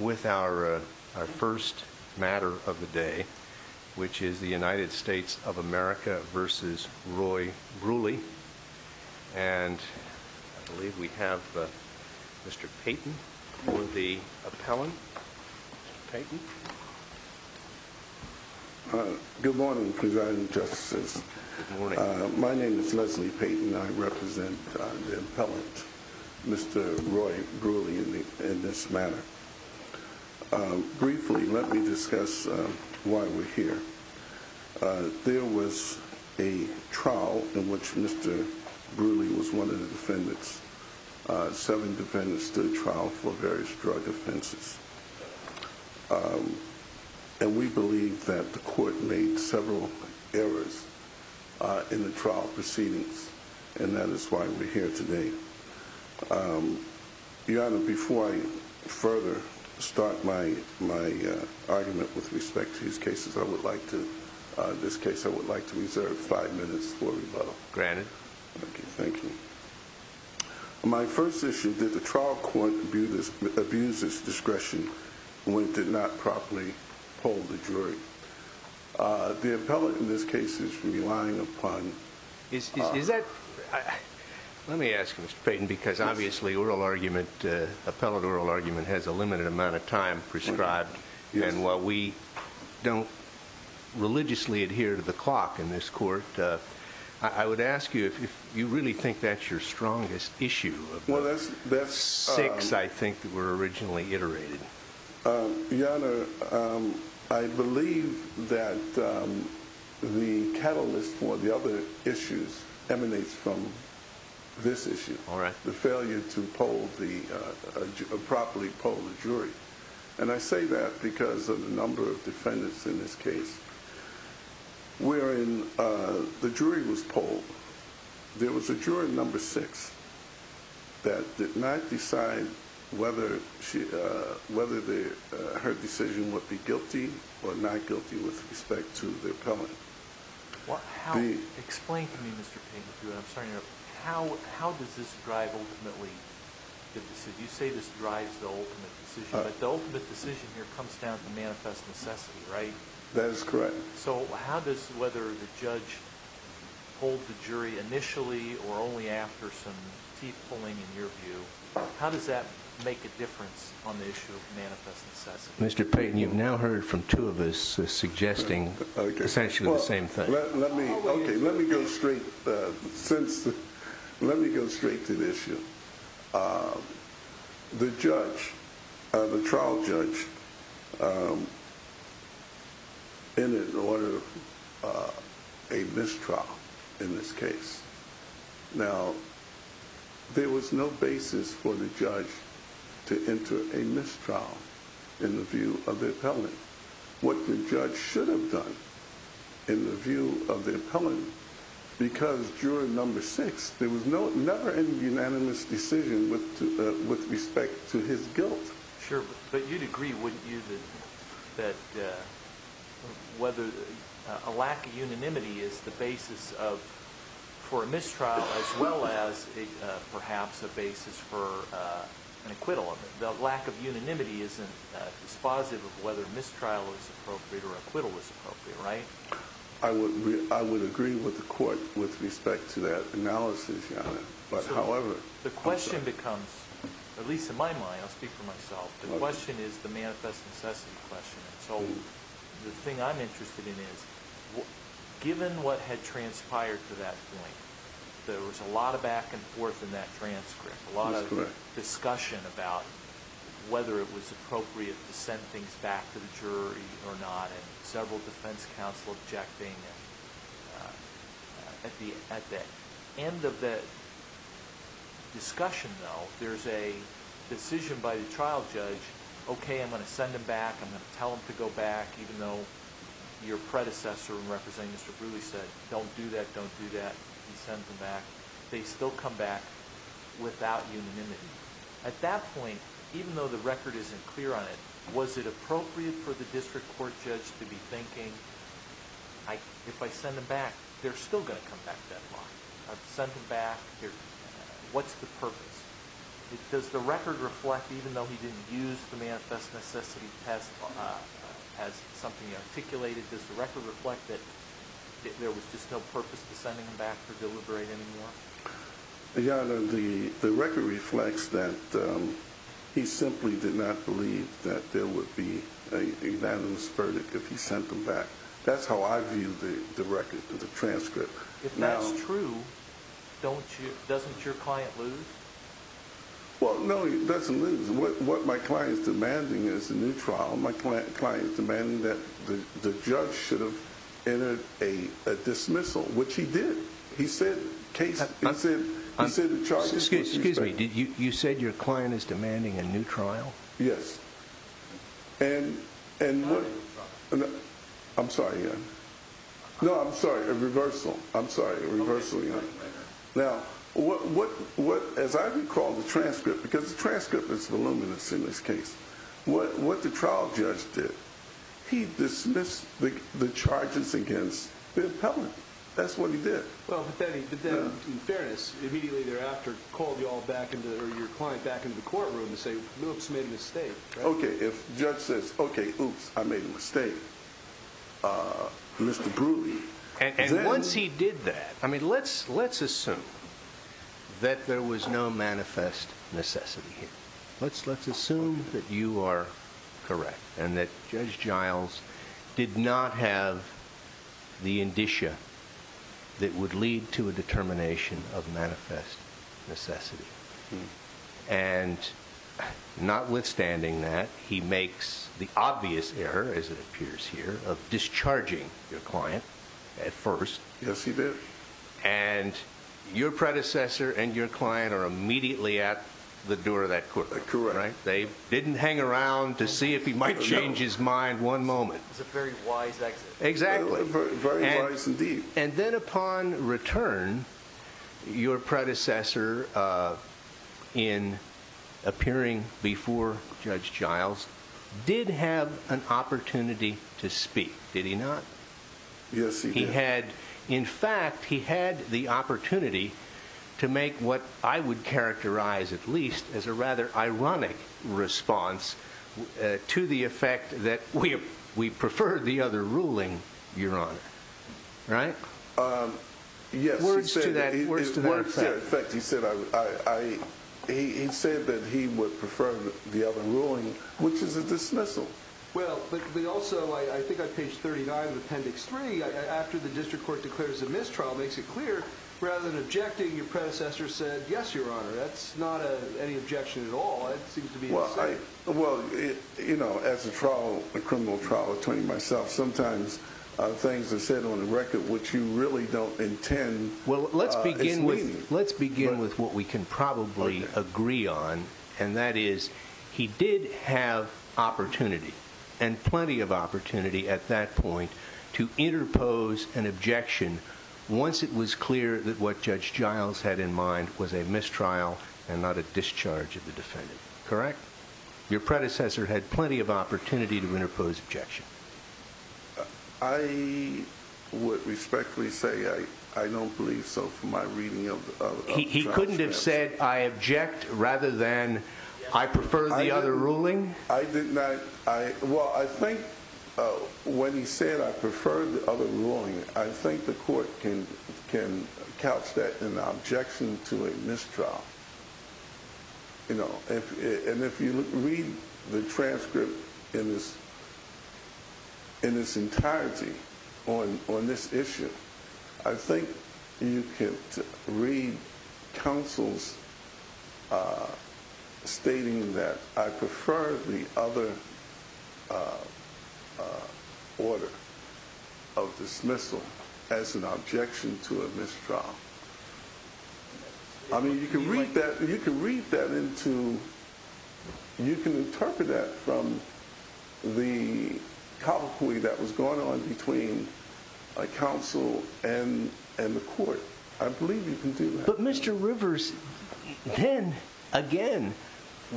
With our first matter of the day, which is the United States of America versus Roy Brewley. And I believe we have Mr. Payton for the appellant. Mr. Payton. Good morning, Presiding Justice. Good morning. My name is Leslie Payton. I represent the appellant, Mr. Roy Brewley, in this matter. Briefly, let me discuss why we're here. There was a trial in which Mr. Brewley was one of the defendants. Seven defendants stood trial for various drug offenses. And we believe that the court made several errors in the trial proceedings. And that is why we're here today. Your Honor, before I further start my argument with respect to these cases, I would like to reserve five minutes for rebuttal. Granted. Thank you. My first issue, did the trial court abuse its discretion when it did not properly hold the jury? The appellant in this case is relying upon... Let me ask, Mr. Payton, because obviously oral argument, appellate oral argument, has a limited amount of time prescribed. And while we don't religiously adhere to the clock in this court, I would ask you if you really think that's your strongest issue. Six, I think, were originally iterated. Your Honor, I believe that the catalyst for the other issues emanates from this issue. And I say that because of the number of defendants in this case wherein the jury was polled. There was a jury number six that did not decide whether her decision would be guilty or not guilty with respect to the appellant. Explain to me, Mr. Payton, how does this drive ultimately the decision? You say this drives the ultimate decision, but the ultimate decision here comes down to manifest necessity, right? That is correct. So how does whether the judge pulled the jury initially or only after some teeth pulling, in your view, how does that make a difference on the issue of manifest necessity? Mr. Payton, you've now heard from two of us suggesting essentially the same thing. Let me go straight to the issue. The trial judge entered in order a mistrial in this case. Now, there was no basis for the judge to enter a mistrial in the view of the appellant. What the judge should have done in the view of the appellant, because juror number six, there was never any unanimous decision with respect to his guilt. Sure, but you'd agree, wouldn't you, that whether a lack of unanimity is the basis for a mistrial as well as perhaps a basis for an acquittal? The lack of unanimity isn't dispositive of whether mistrial was appropriate or acquittal was appropriate, right? I would agree with the court with respect to that analysis, Your Honor. The question becomes, at least in my mind, I'll speak for myself, the question is the manifest necessity question. The thing I'm interested in is, given what had transpired to that point, there was a lot of back and forth in that transcript, a lot of discussion about whether it was appropriate to send things back to the jury or not, and several defense counsel objecting. At the end of that discussion, though, there's a decision by the trial judge, okay, I'm going to send them back, I'm going to tell them to go back, even though your predecessor in representing Mr. Brewer said, don't do that, don't do that, and send them back. They still come back without unanimity. At that point, even though the record isn't clear on it, was it appropriate for the district court judge to be thinking, if I send them back, they're still going to come back that long? I've sent them back, what's the purpose? Does the record reflect, even though he didn't use the manifest necessity test as something he articulated, does the record reflect that there was just no purpose to sending them back to deliberate anymore? The record reflects that he simply did not believe that there would be an unanimous verdict if he sent them back. That's how I view the record, the transcript. If that's true, doesn't your client lose? Well, no, he doesn't lose. What my client is demanding is a new trial. My client is demanding that the judge should have entered a dismissal, which he did. He said, the charges. Excuse me, you said your client is demanding a new trial? Yes. I'm sorry. No, I'm sorry, a reversal. I'm sorry, a reversal. Now, as I recall the transcript, because the transcript is voluminous in this case, what the trial judge did, he dismissed the charges against the appellant. That's what he did. But then, in fairness, immediately thereafter called your client back into the courtroom to say, oops, made a mistake. OK, if judge says, OK, oops, I made a mistake, Mr. Brewery. And once he did that, I mean, let's assume that there was no manifest necessity here. Let's assume that you are correct and that Judge Giles did not have the indicia that would lead to a determination of manifest necessity. And notwithstanding that, he makes the obvious error, as it appears here, of discharging your client at first. Yes, he did. And your predecessor and your client are immediately at the door of that courtroom. Correct. They didn't hang around to see if he might change his mind one moment. It was a very wise exit. Exactly. Very wise indeed. And then upon return, your predecessor, in appearing before Judge Giles, did have an opportunity to speak, did he not? Yes, he did. In fact, he had the opportunity to make what I would characterize, at least, as a rather ironic response to the effect that we preferred the other ruling, Your Honor. Right? Yes. Words to that effect. Words to that effect. He said that he would prefer the other ruling, which is a dismissal. Well, but they also, I think on page 39 of appendix 3, after the district court declares a mistrial, makes it clear, rather than objecting, your predecessor said, yes, Your Honor. That's not any objection at all. It seems to be the same. Well, as a criminal trial attorney myself, sometimes things are said on the record which you really don't intend as meaning. Let's begin with what we can probably agree on, and that is, he did have opportunity, and plenty of opportunity at that point, to interpose an objection once it was clear that what Judge Giles had in mind was a mistrial and not a discharge of the defendant. Correct? Your predecessor had plenty of opportunity to interpose objection. I would respectfully say I don't believe so from my reading of the transcripts. He couldn't have said, I object, rather than, I prefer the other ruling? I did not. Well, I think when he said, I prefer the other ruling, I think the court can couch that in the objection to a mistrial. And if you read the transcript in its entirety on this issue, I think you can read counsel's stating that I prefer the other order of dismissal as an objection to a mistrial. I mean, you can read that, you can read that into, you can interpret that from the cavalcoy that was going on between counsel and the court. I believe you can do that. But Mr. Rivers, then again,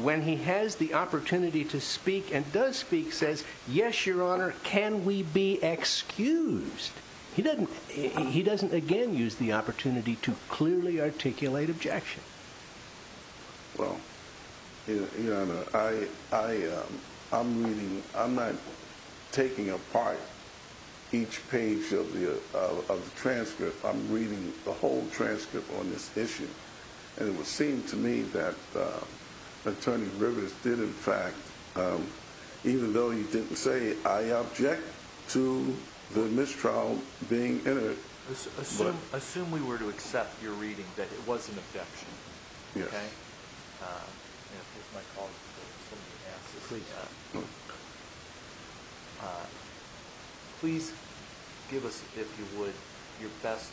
when he has the opportunity to speak and does speak, says, yes, your honor, can we be excused? He doesn't again use the opportunity to clearly articulate objection. Well, your honor, I'm not taking apart each page of the transcript. I'm reading the whole transcript on this issue. And it would seem to me that Attorney Rivers did, in fact, even though he didn't say, I object to the mistrial being entered. Assume we were to accept your reading that it was an objection. Please give us, if you would, your best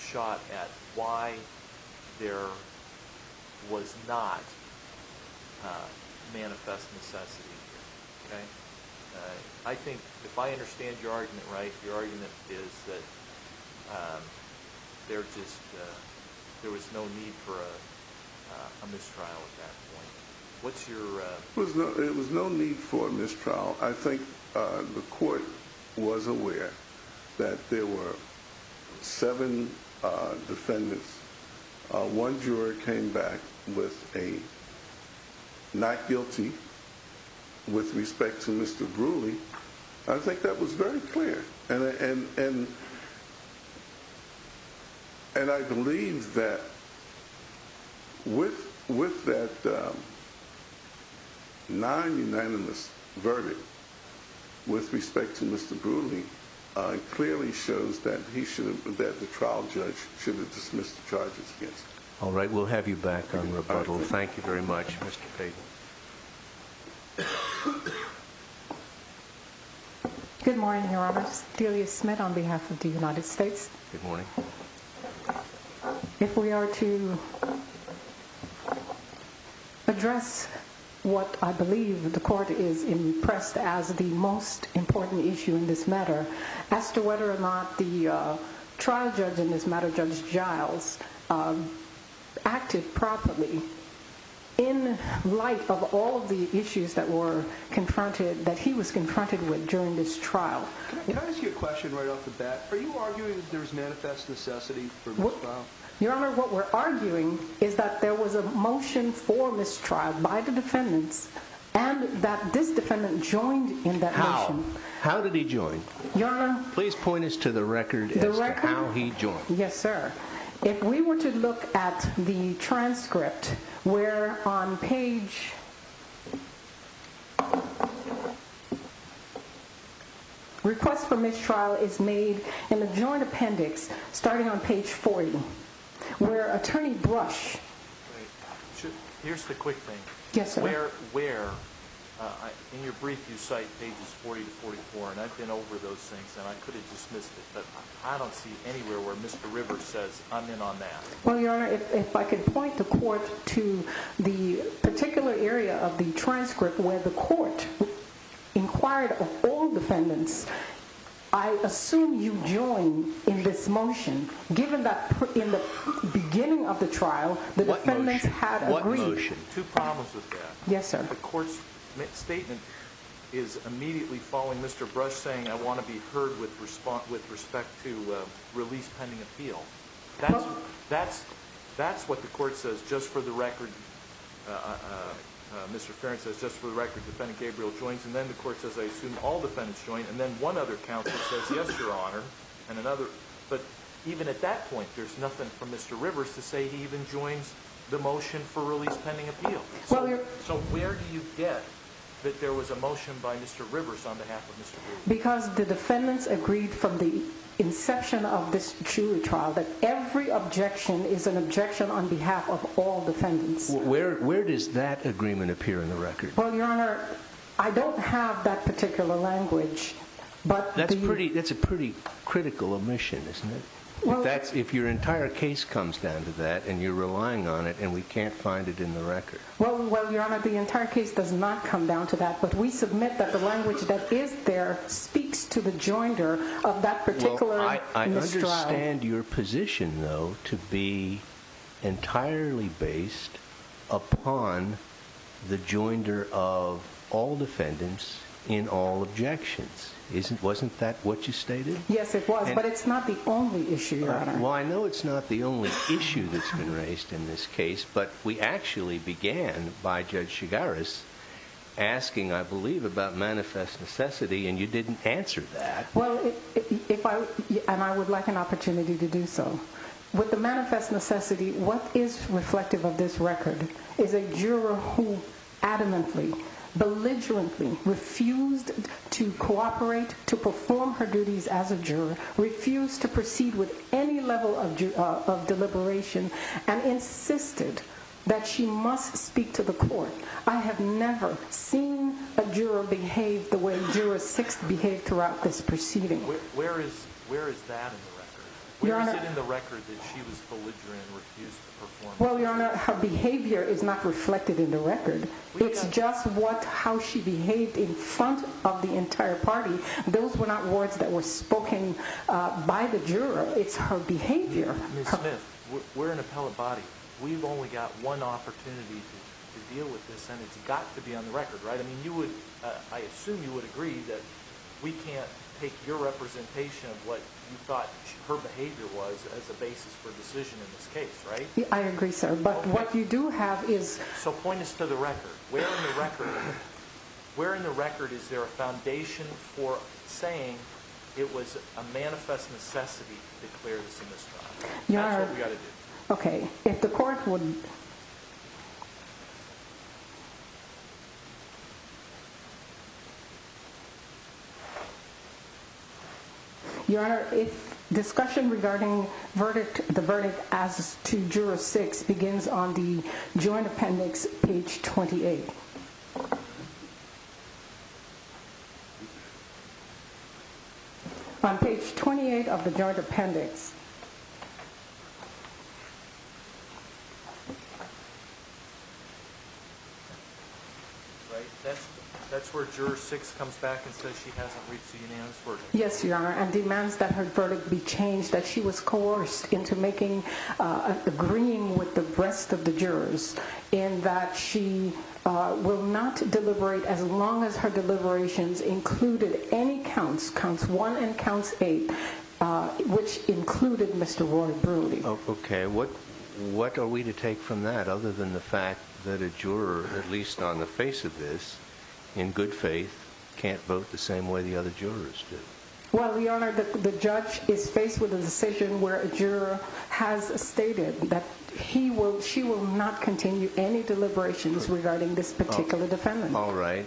shot at why there was not manifest necessity here. I think, if I understand your argument right, your argument is that there was no need for a mistrial at that point. It was no need for a mistrial. I think the court was aware that there were seven defendants. One juror came back with a not guilty with respect to Mr. Brulee. I think that was very clear. And I believe that with that non-unanimous verdict with respect to Mr. Brulee, it clearly shows that the trial judge should have dismissed the charges against him. All right, we'll have you back on rebuttal. Thank you very much, Mr. Payton. Good morning, Your Honor. Delia Smith on behalf of the United States. Good morning. If we are to address what I believe the court is impressed as the most important issue in this matter, as to whether or not the trial judge in this matter, Judge Giles, acted properly in light of all the issues that he was confronted with during this trial. Can I ask you a question right off the bat? Are you arguing that there was manifest necessity for mistrial? Your Honor, what we're arguing is that there was a motion for mistrial by the defendants and that this defendant joined in that motion. How? How did he join? Your Honor? Please point us to the record as to how he joined. The record? Yes, sir. If we were to look at the transcript, where on page request for mistrial is made in the joint appendix, starting on page 40, where attorney Brush. Here's the quick thing. Yes, sir. In your brief, you cite pages 40 to 44, and I've been over those things, and I could have dismissed it, but I don't see anywhere where Mr. Rivers says, I'm in on that. Well, Your Honor, if I could point the court to the particular area of the transcript where the court inquired of all defendants, I assume you joined in this motion, given that in the beginning of the trial, the defendants had agreed. What motion? Two problems with that. Yes, sir. The court's statement is immediately following Mr. Brush saying, I want to be heard with respect to release pending appeal. That's what the court says, just for the record. And then the court says, I assume all defendants joined, and then one other counsel says, yes, Your Honor. But even at that point, there's nothing for Mr. Rivers to say he even joins the motion for release pending appeal. So where do you get that there was a motion by Mr. Rivers on behalf of Mr. Brush? Because the defendants agreed from the inception of this jury trial that every objection is an objection on behalf of all defendants. Where does that agreement appear in the record? Well, Your Honor, I don't have that particular language. That's a pretty critical omission, isn't it? If your entire case comes down to that, and you're relying on it, and we can't find it in the record. Well, Your Honor, the entire case does not come down to that. But we submit that the language that is there speaks to the joinder of that particular mistrial. I understand your position, though, to be entirely based upon the joinder of all defendants in all objections. Wasn't that what you stated? Yes, it was. But it's not the only issue, Your Honor. Well, I know it's not the only issue that's been raised in this case. But we actually began by Judge Chigaris asking, I believe, about manifest necessity, and you didn't answer that. Well, and I would like an opportunity to do so. With the manifest necessity, what is reflective of this record is a juror who adamantly, belligerently refused to cooperate, to perform her duties as a juror, refused to proceed with any level of deliberation, and insisted that she must speak to the court. I have never seen a juror behave the way Juror Sixth behaved throughout this proceeding. Where is that in the record? Where is it in the record that she was belligerent and refused to perform her duties? Well, Your Honor, her behavior is not reflected in the record. It's just how she behaved in front of the entire party. Those were not words that were spoken by the juror. It's her behavior. Ms. Smith, we're an appellate body. We've only got one opportunity to deal with this, and it's got to be on the record, right? I assume you would agree that we can't take your representation of what you thought her behavior was as a basis for decision in this case, right? I agree, sir. But what you do have is— So point us to the record. Where in the record is there a foundation for saying it was a manifest necessity to declare this a misconduct? That's what we've got to do. Okay. If the court would— Your Honor, discussion regarding the verdict as to Juror Six begins on the Joint Appendix, page 28. On page 28 of the Joint Appendix. That's where Juror Six comes back and says she hasn't reached a unanimous verdict. Yes, Your Honor, and demands that her verdict be changed, that she was coerced into agreeing with the rest of the jurors, in that she will not deliberate as long as her deliberations included any counts, Counts 1 and Counts 8, which included Mr. Roy Broody. Okay. What are we to take from that other than the fact that a juror, at least on the face of this, in good faith, can't vote the same way the other jurors do? Well, Your Honor, the judge is faced with a decision where a juror has stated that she will not continue any deliberations regarding this particular defendant. All right.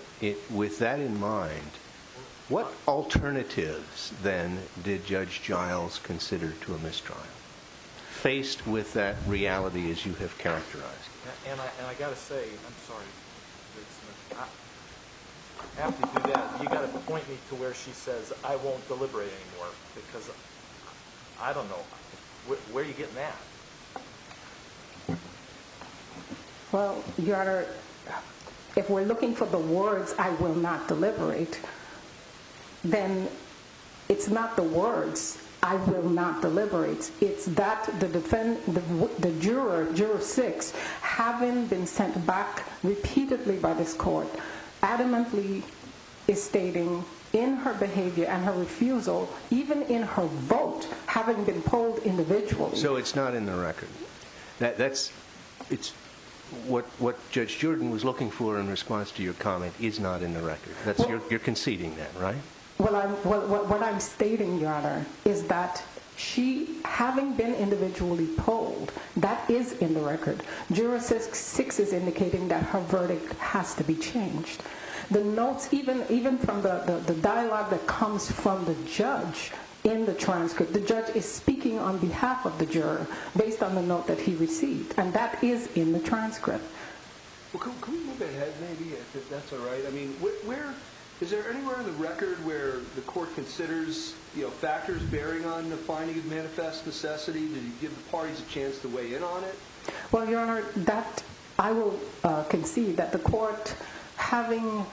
With that in mind, what alternatives, then, did Judge Giles consider to a mistrial? Faced with that reality as you have characterized it. And I got to say, I'm sorry, Judge Smith, I have to do that. You got to point me to where she says, I won't deliberate anymore, because I don't know. Where are you getting that? Well, Your Honor, if we're looking for the words, I will not deliberate, then it's not the words, I will not deliberate. It's that the juror, Juror 6, having been sent back repeatedly by this court, adamantly is stating in her behavior and her refusal, even in her vote, having been polled individually. So it's not in the record. That's, it's, what Judge Jordan was looking for in response to your comment is not in the record. You're conceding that, right? Well, what I'm stating, Your Honor, is that she, having been individually polled, that is in the record. Juror 6 is indicating that her verdict has to be changed. The notes, even from the dialogue that comes from the judge in the transcript, the judge is speaking on behalf of the juror based on the note that he received. And that is in the transcript. Well, can we move ahead, maybe, if that's all right? I mean, where, is there anywhere in the record where the court considers, you know, factors bearing on the finding of manifest necessity? Did you give the parties a chance to weigh in on it? Well, Your Honor, that, I will concede that the court, having,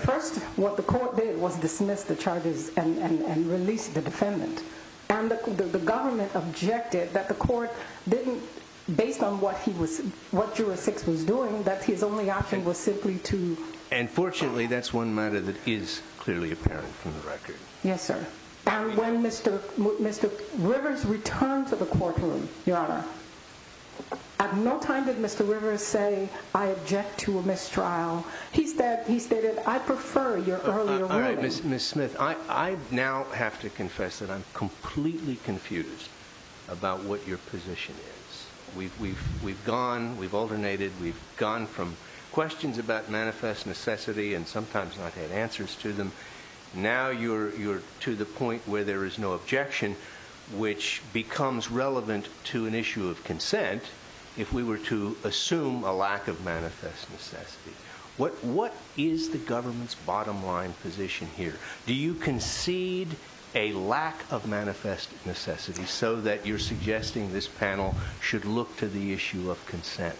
first, what the court did was dismiss the charges and release the defendant. And the government objected that the court didn't, based on what he was, what Juror 6 was doing, that his only option was simply to... And fortunately, that's one matter that is clearly apparent from the record. Yes, sir. And when Mr. Rivers returned to the courtroom, Your Honor, at no time did Mr. Rivers say, I object to a mistrial. He stated, I prefer your earlier ruling. All right, Ms. Smith, I now have to confess that I'm completely confused about what your position is. We've gone, we've alternated, we've gone from questions about manifest necessity and sometimes not had answers to them. Now you're to the point where there is no objection, which becomes relevant to an issue of consent if we were to assume a lack of manifest necessity. What is the government's bottom line position here? Do you concede a lack of manifest necessity so that you're suggesting this panel should look to the issue of consent?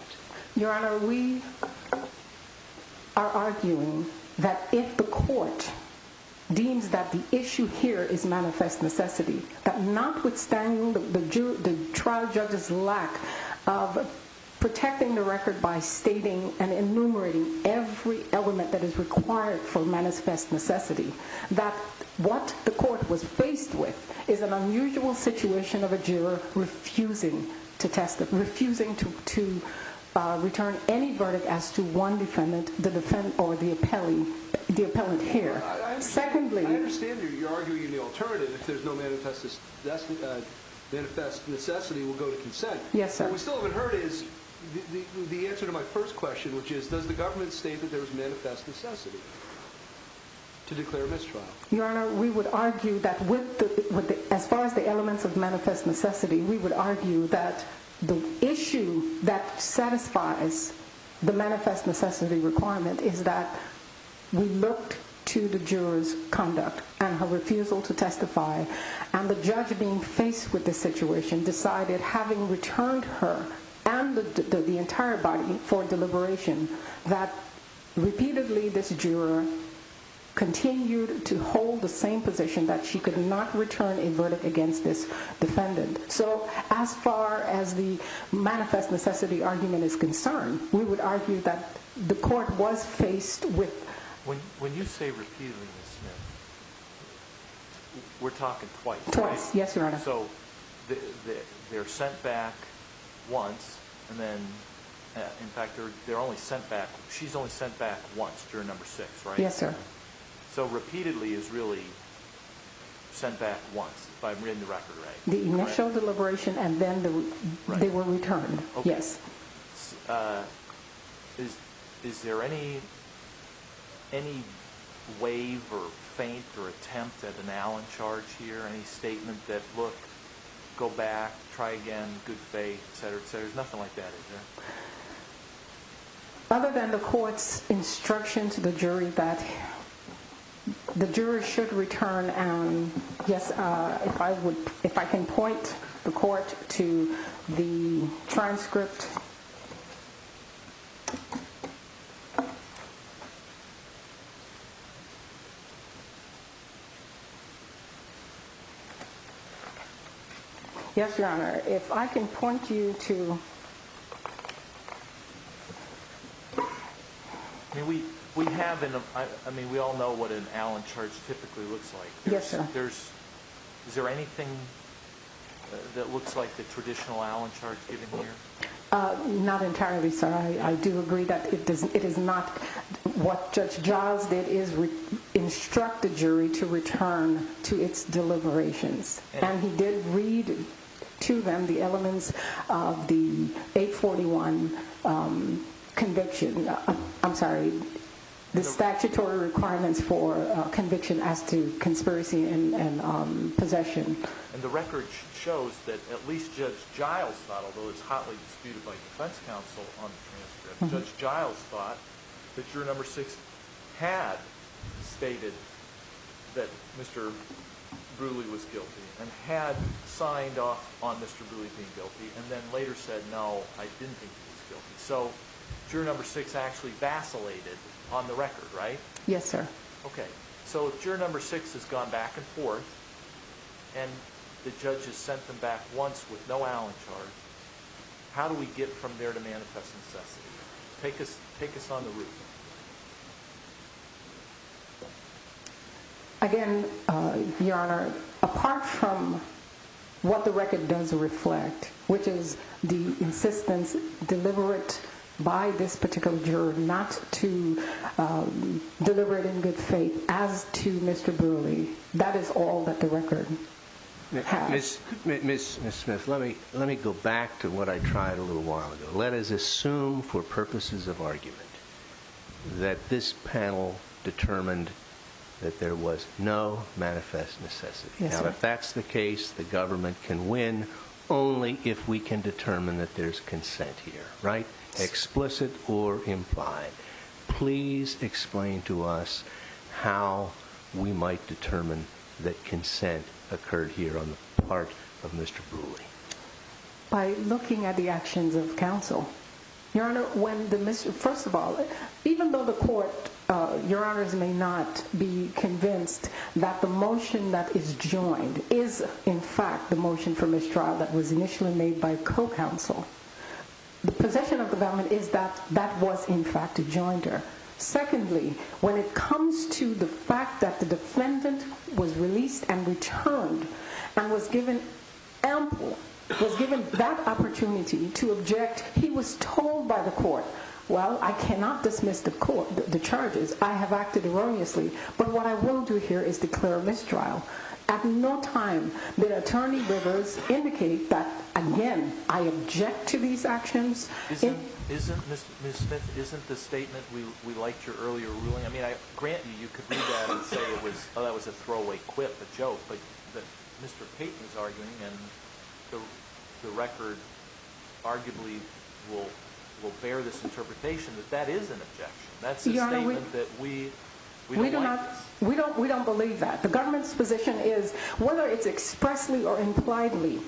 Your Honor, we are arguing that if the court deems that the issue here is manifest necessity, that notwithstanding the trial judge's lack of protecting the record by stating and enumerating every element that is required for manifest necessity, that what the court was faced with is an unusual situation of a juror refusing to test, refusing to return any verdict as to one defendant, the defendant or the appellee, the appellant here. I understand you're arguing the alternative, if there's no manifest necessity, we'll go to consent. Yes, sir. What we still haven't heard is the answer to my first question, which is does the government state that there is manifest necessity to declare mistrial? Your Honor, we would argue that as far as the elements of manifest necessity, we would argue that the issue that satisfies the manifest necessity requirement is that we looked to the juror's conduct and her refusal to testify, and the judge being faced with this situation decided, having returned her and the entire body for deliberation, that repeatedly this juror continued to hold the same position that she could not return a verdict against this defendant. So as far as the manifest necessity argument is concerned, we would argue that the court was faced with— When you say repeatedly, Ms. Smith, we're talking twice, right? Twice, yes, Your Honor. So they're sent back once, and then, in fact, they're only sent back—she's only sent back once during number six, right? Yes, sir. So repeatedly is really sent back once, but in the record, right? The initial deliberation and then they were returned, yes. Is there any waive or feint or attempt at an Allen charge here, any statement that, look, go back, try again, good faith, et cetera, et cetera? There's nothing like that, is there? Other than the court's instruction to the jury that the jury should return, yes, if I can point the court to the transcript. Yes, Your Honor. If I can point you to— I mean, we all know what an Allen charge typically looks like. Yes, sir. Is there anything that looks like the traditional Allen charge given here? Not entirely, sir. I do agree that it is not—what Judge Giles did is instruct the jury to return to its deliberations. And he did read to them the elements of the 841 conviction—I'm sorry, the statutory requirements for conviction as to conspiracy and possession. And the record shows that at least Judge Giles thought, although it's hotly disputed by defense counsel on the transcript, Judge Giles thought that juror number six had stated that Mr. Brule was guilty and had signed off on Mr. Brule being guilty and then later said, no, I didn't think he was guilty. So juror number six actually vacillated on the record, right? Yes, sir. Okay. So if juror number six has gone back and forth and the judge has sent them back once with no Allen charge, how do we get from there to manifest necessity? Take us on the route. Again, Your Honor, apart from what the record does reflect, which is the insistence deliberate by this particular juror not to deliberate in good faith as to Mr. Brule, that is all that the record has. Ms. Smith, let me go back to what I tried a little while ago. Let us assume for purposes of argument that this panel determined that there was no manifest necessity. Now, if that's the case, the government can win only if we can determine that there's consent here, right? Explicit or implied. Please explain to us how we might determine that consent occurred here on the part of Mr. Brule. By looking at the actions of counsel. Your Honor, when the Mr. First of all, even though the court, your honors may not be convinced that the motion that is joined is in fact the motion for mistrial that was initially made by co-counsel. The possession of the government is that that was in fact a jointer. Secondly, when it comes to the fact that the defendant was released and returned and was given ample, was given that opportunity to object, he was told by the court, well, I cannot dismiss the court, the charges. I have acted erroneously, but what I will do here is declare a mistrial. At no time did attorney rivers indicate that, again, I object to these actions. Isn't, isn't, Ms. Smith, isn't the statement we liked your earlier ruling. I mean, I grant you, you could read that and say it was, oh, that was a throwaway quip, a joke. But Mr. Payton's arguing and the record arguably will bear this interpretation that that is an objection. That's a statement that we don't like. We don't believe that. The government's position is whether it's expressly or impliedly,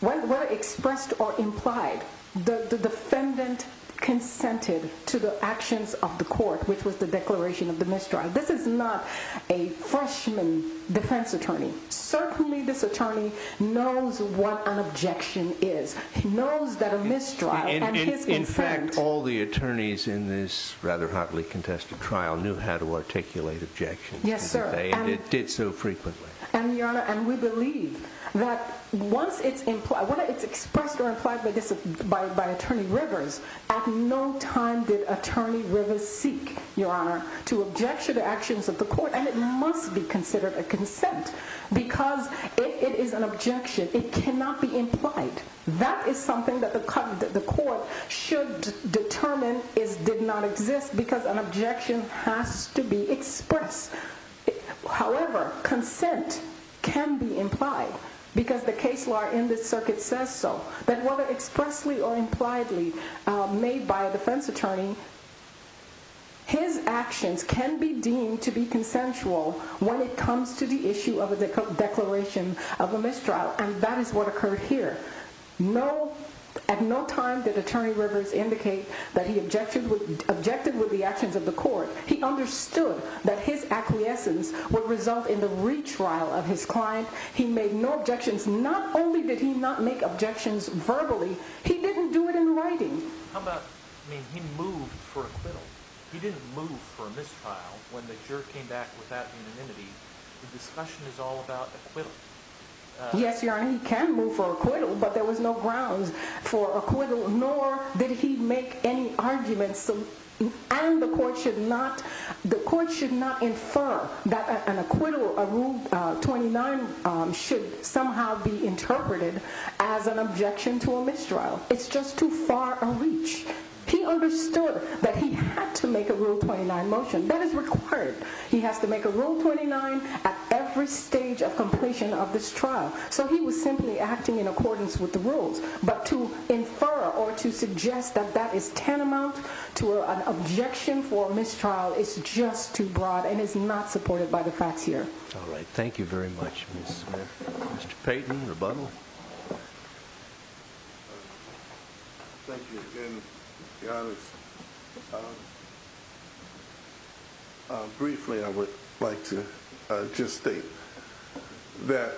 whether expressed or implied, the defendant consented to the actions of the court, which was the declaration of the mistrial. This is not a freshman defense attorney. Certainly this attorney knows what an objection is. He knows that a mistrial and his consent. In fact, all the attorneys in this rather hotly contested trial knew how to articulate objections. Yes, sir. And it did so frequently. And we believe that once it's expressed or implied by attorney rivers, at no time did attorney rivers seek, your honor, to object to the actions of the court. And it must be considered a consent because it is an objection. It cannot be implied. That is something that the court should determine did not exist because an objection has to be expressed. However, consent can be implied because the case law in this circuit says so. That whether expressly or impliedly made by a defense attorney, his actions can be deemed to be consensual when it comes to the issue of a declaration of a mistrial. And that is what occurred here. At no time did attorney rivers indicate that he objected with the actions of the court. He understood that his acquiescence would result in the retrial of his client. He made no objections. Not only did he not make objections verbally, he didn't do it in writing. How about, I mean, he moved for acquittal. He didn't move for a mistrial when the jury came back without unanimity. The discussion is all about acquittal. Yes, Your Honor, he can move for acquittal, but there was no grounds for acquittal, nor did he make any arguments. And the court should not infer that an acquittal of Rule 29 should somehow be interpreted as an objection to a mistrial. It's just too far a reach. He understood that he had to make a Rule 29 motion. That is required. He has to make a Rule 29 at every stage of completion of this trial. So he was simply acting in accordance with the rules. But to infer or to suggest that that is tantamount to an objection for a mistrial is just too broad and is not supported by the facts here. All right, thank you very much, Ms. Smith. Mr. Payton, rebuttal. Thank you again, Your Honor. First, briefly, I would like to just state that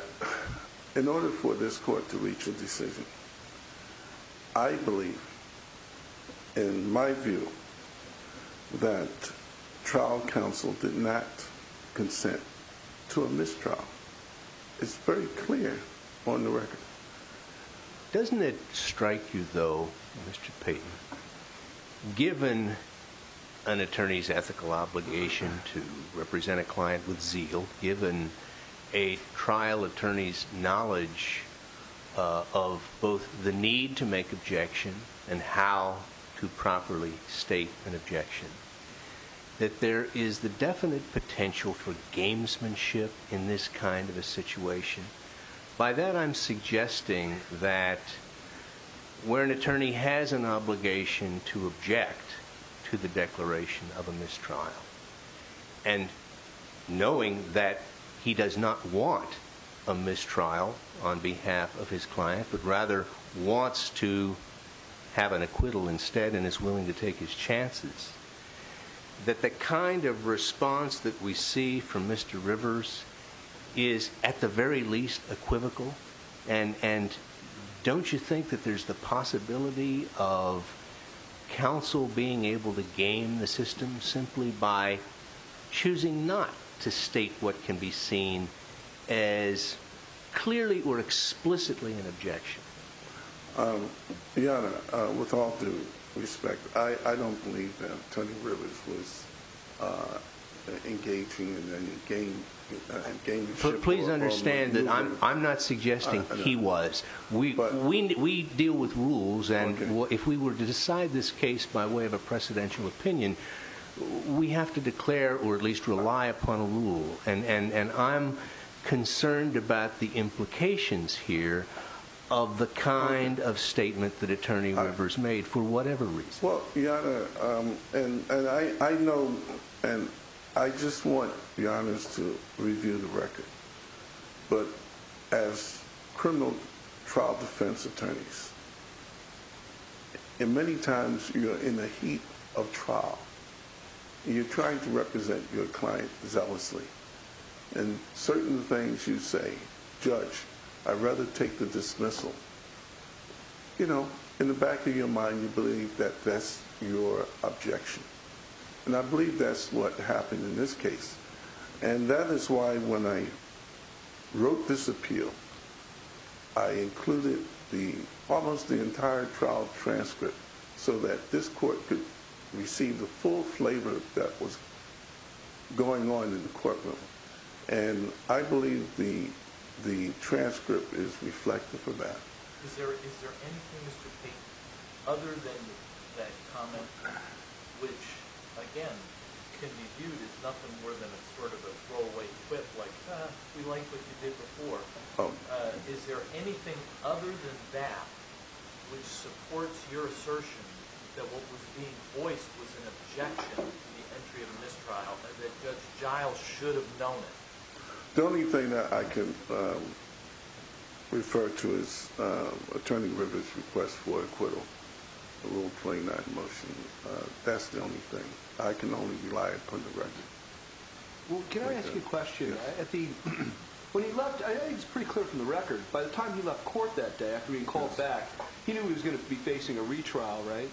in order for this court to reach a decision, I believe, in my view, that trial counsel did not consent to a mistrial. It's very clear on the record. Doesn't it strike you, though, Mr. Payton, given an attorney's ethical obligation to represent a client with zeal, given a trial attorney's knowledge of both the need to make objection and how to properly state an objection, that there is the definite potential for gamesmanship in this kind of a situation? By that, I'm suggesting that where an attorney has an obligation to object to the declaration of a mistrial, and knowing that he does not want a mistrial on behalf of his client, but rather wants to have an acquittal instead and is willing to take his chances, that the kind of response that we see from Mr. Rivers is at the very least equivocal? And don't you think that there's the possibility of counsel being able to game the system simply by choosing not to state what can be seen as clearly or explicitly an objection? Your Honor, with all due respect, I don't believe that Tony Rivers was engaging in any gameship. Please understand that I'm not suggesting he was. We deal with rules, and if we were to decide this case by way of a precedential opinion, we have to declare or at least rely upon a rule. And I'm concerned about the implications here of the kind of statement that Attorney Rivers made, for whatever reason. Well, Your Honor, and I know, and I just want Your Honors to review the record, but as criminal trial defense attorneys, many times you're in the heat of trial. You're trying to represent your client zealously. And certain things you say, Judge, I'd rather take the dismissal. You know, in the back of your mind, you believe that that's your objection. And I believe that's what happened in this case. And that is why when I wrote this appeal, I included almost the entire trial transcript so that this court could receive the full flavor that was going on in the courtroom. And I believe the transcript is reflective of that. Is there anything, Mr. Pate, other than that comment, which, again, can be viewed as nothing more than sort of a throwaway quip, like, we like what you did before. Is there anything other than that which supports your assertion that what was being voiced was an objection to the entry of a mistrial, that Judge Giles should have known it? The only thing that I can refer to is Attorney Rivers' request for acquittal, the Rule 29 motion. That's the only thing. I can only rely upon the record. Well, can I ask you a question? When he left, I think it's pretty clear from the record, by the time he left court that day, after being called back, he knew he was going to be facing a retrial, right?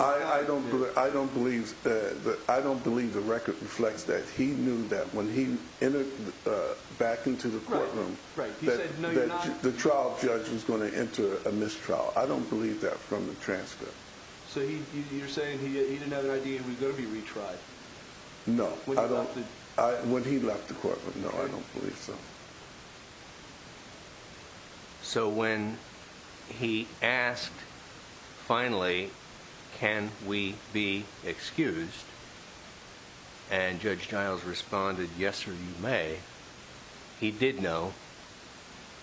I don't believe the record reflects that. He knew that when he entered back into the courtroom that the trial judge was going to enter a mistrial. I don't believe that from the transcript. So you're saying he didn't have an idea he was going to be retried? No. When he left the courtroom? No, I don't believe so. So when he asked, finally, can we be excused, and Judge Giles responded, yes, sir, you may, he did know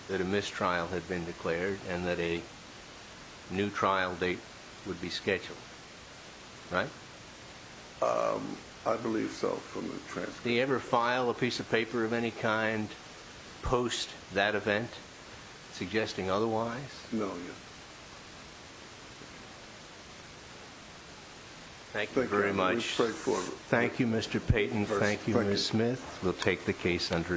that a mistrial had been declared and that a new trial date would be scheduled, right? I believe so, from the transcript. Did he ever file a piece of paper of any kind post that event, suggesting otherwise? No, he didn't. Thank you very much. Thank you, Mr. Payton. Thank you, Ms. Smith. We'll take the case under advisement.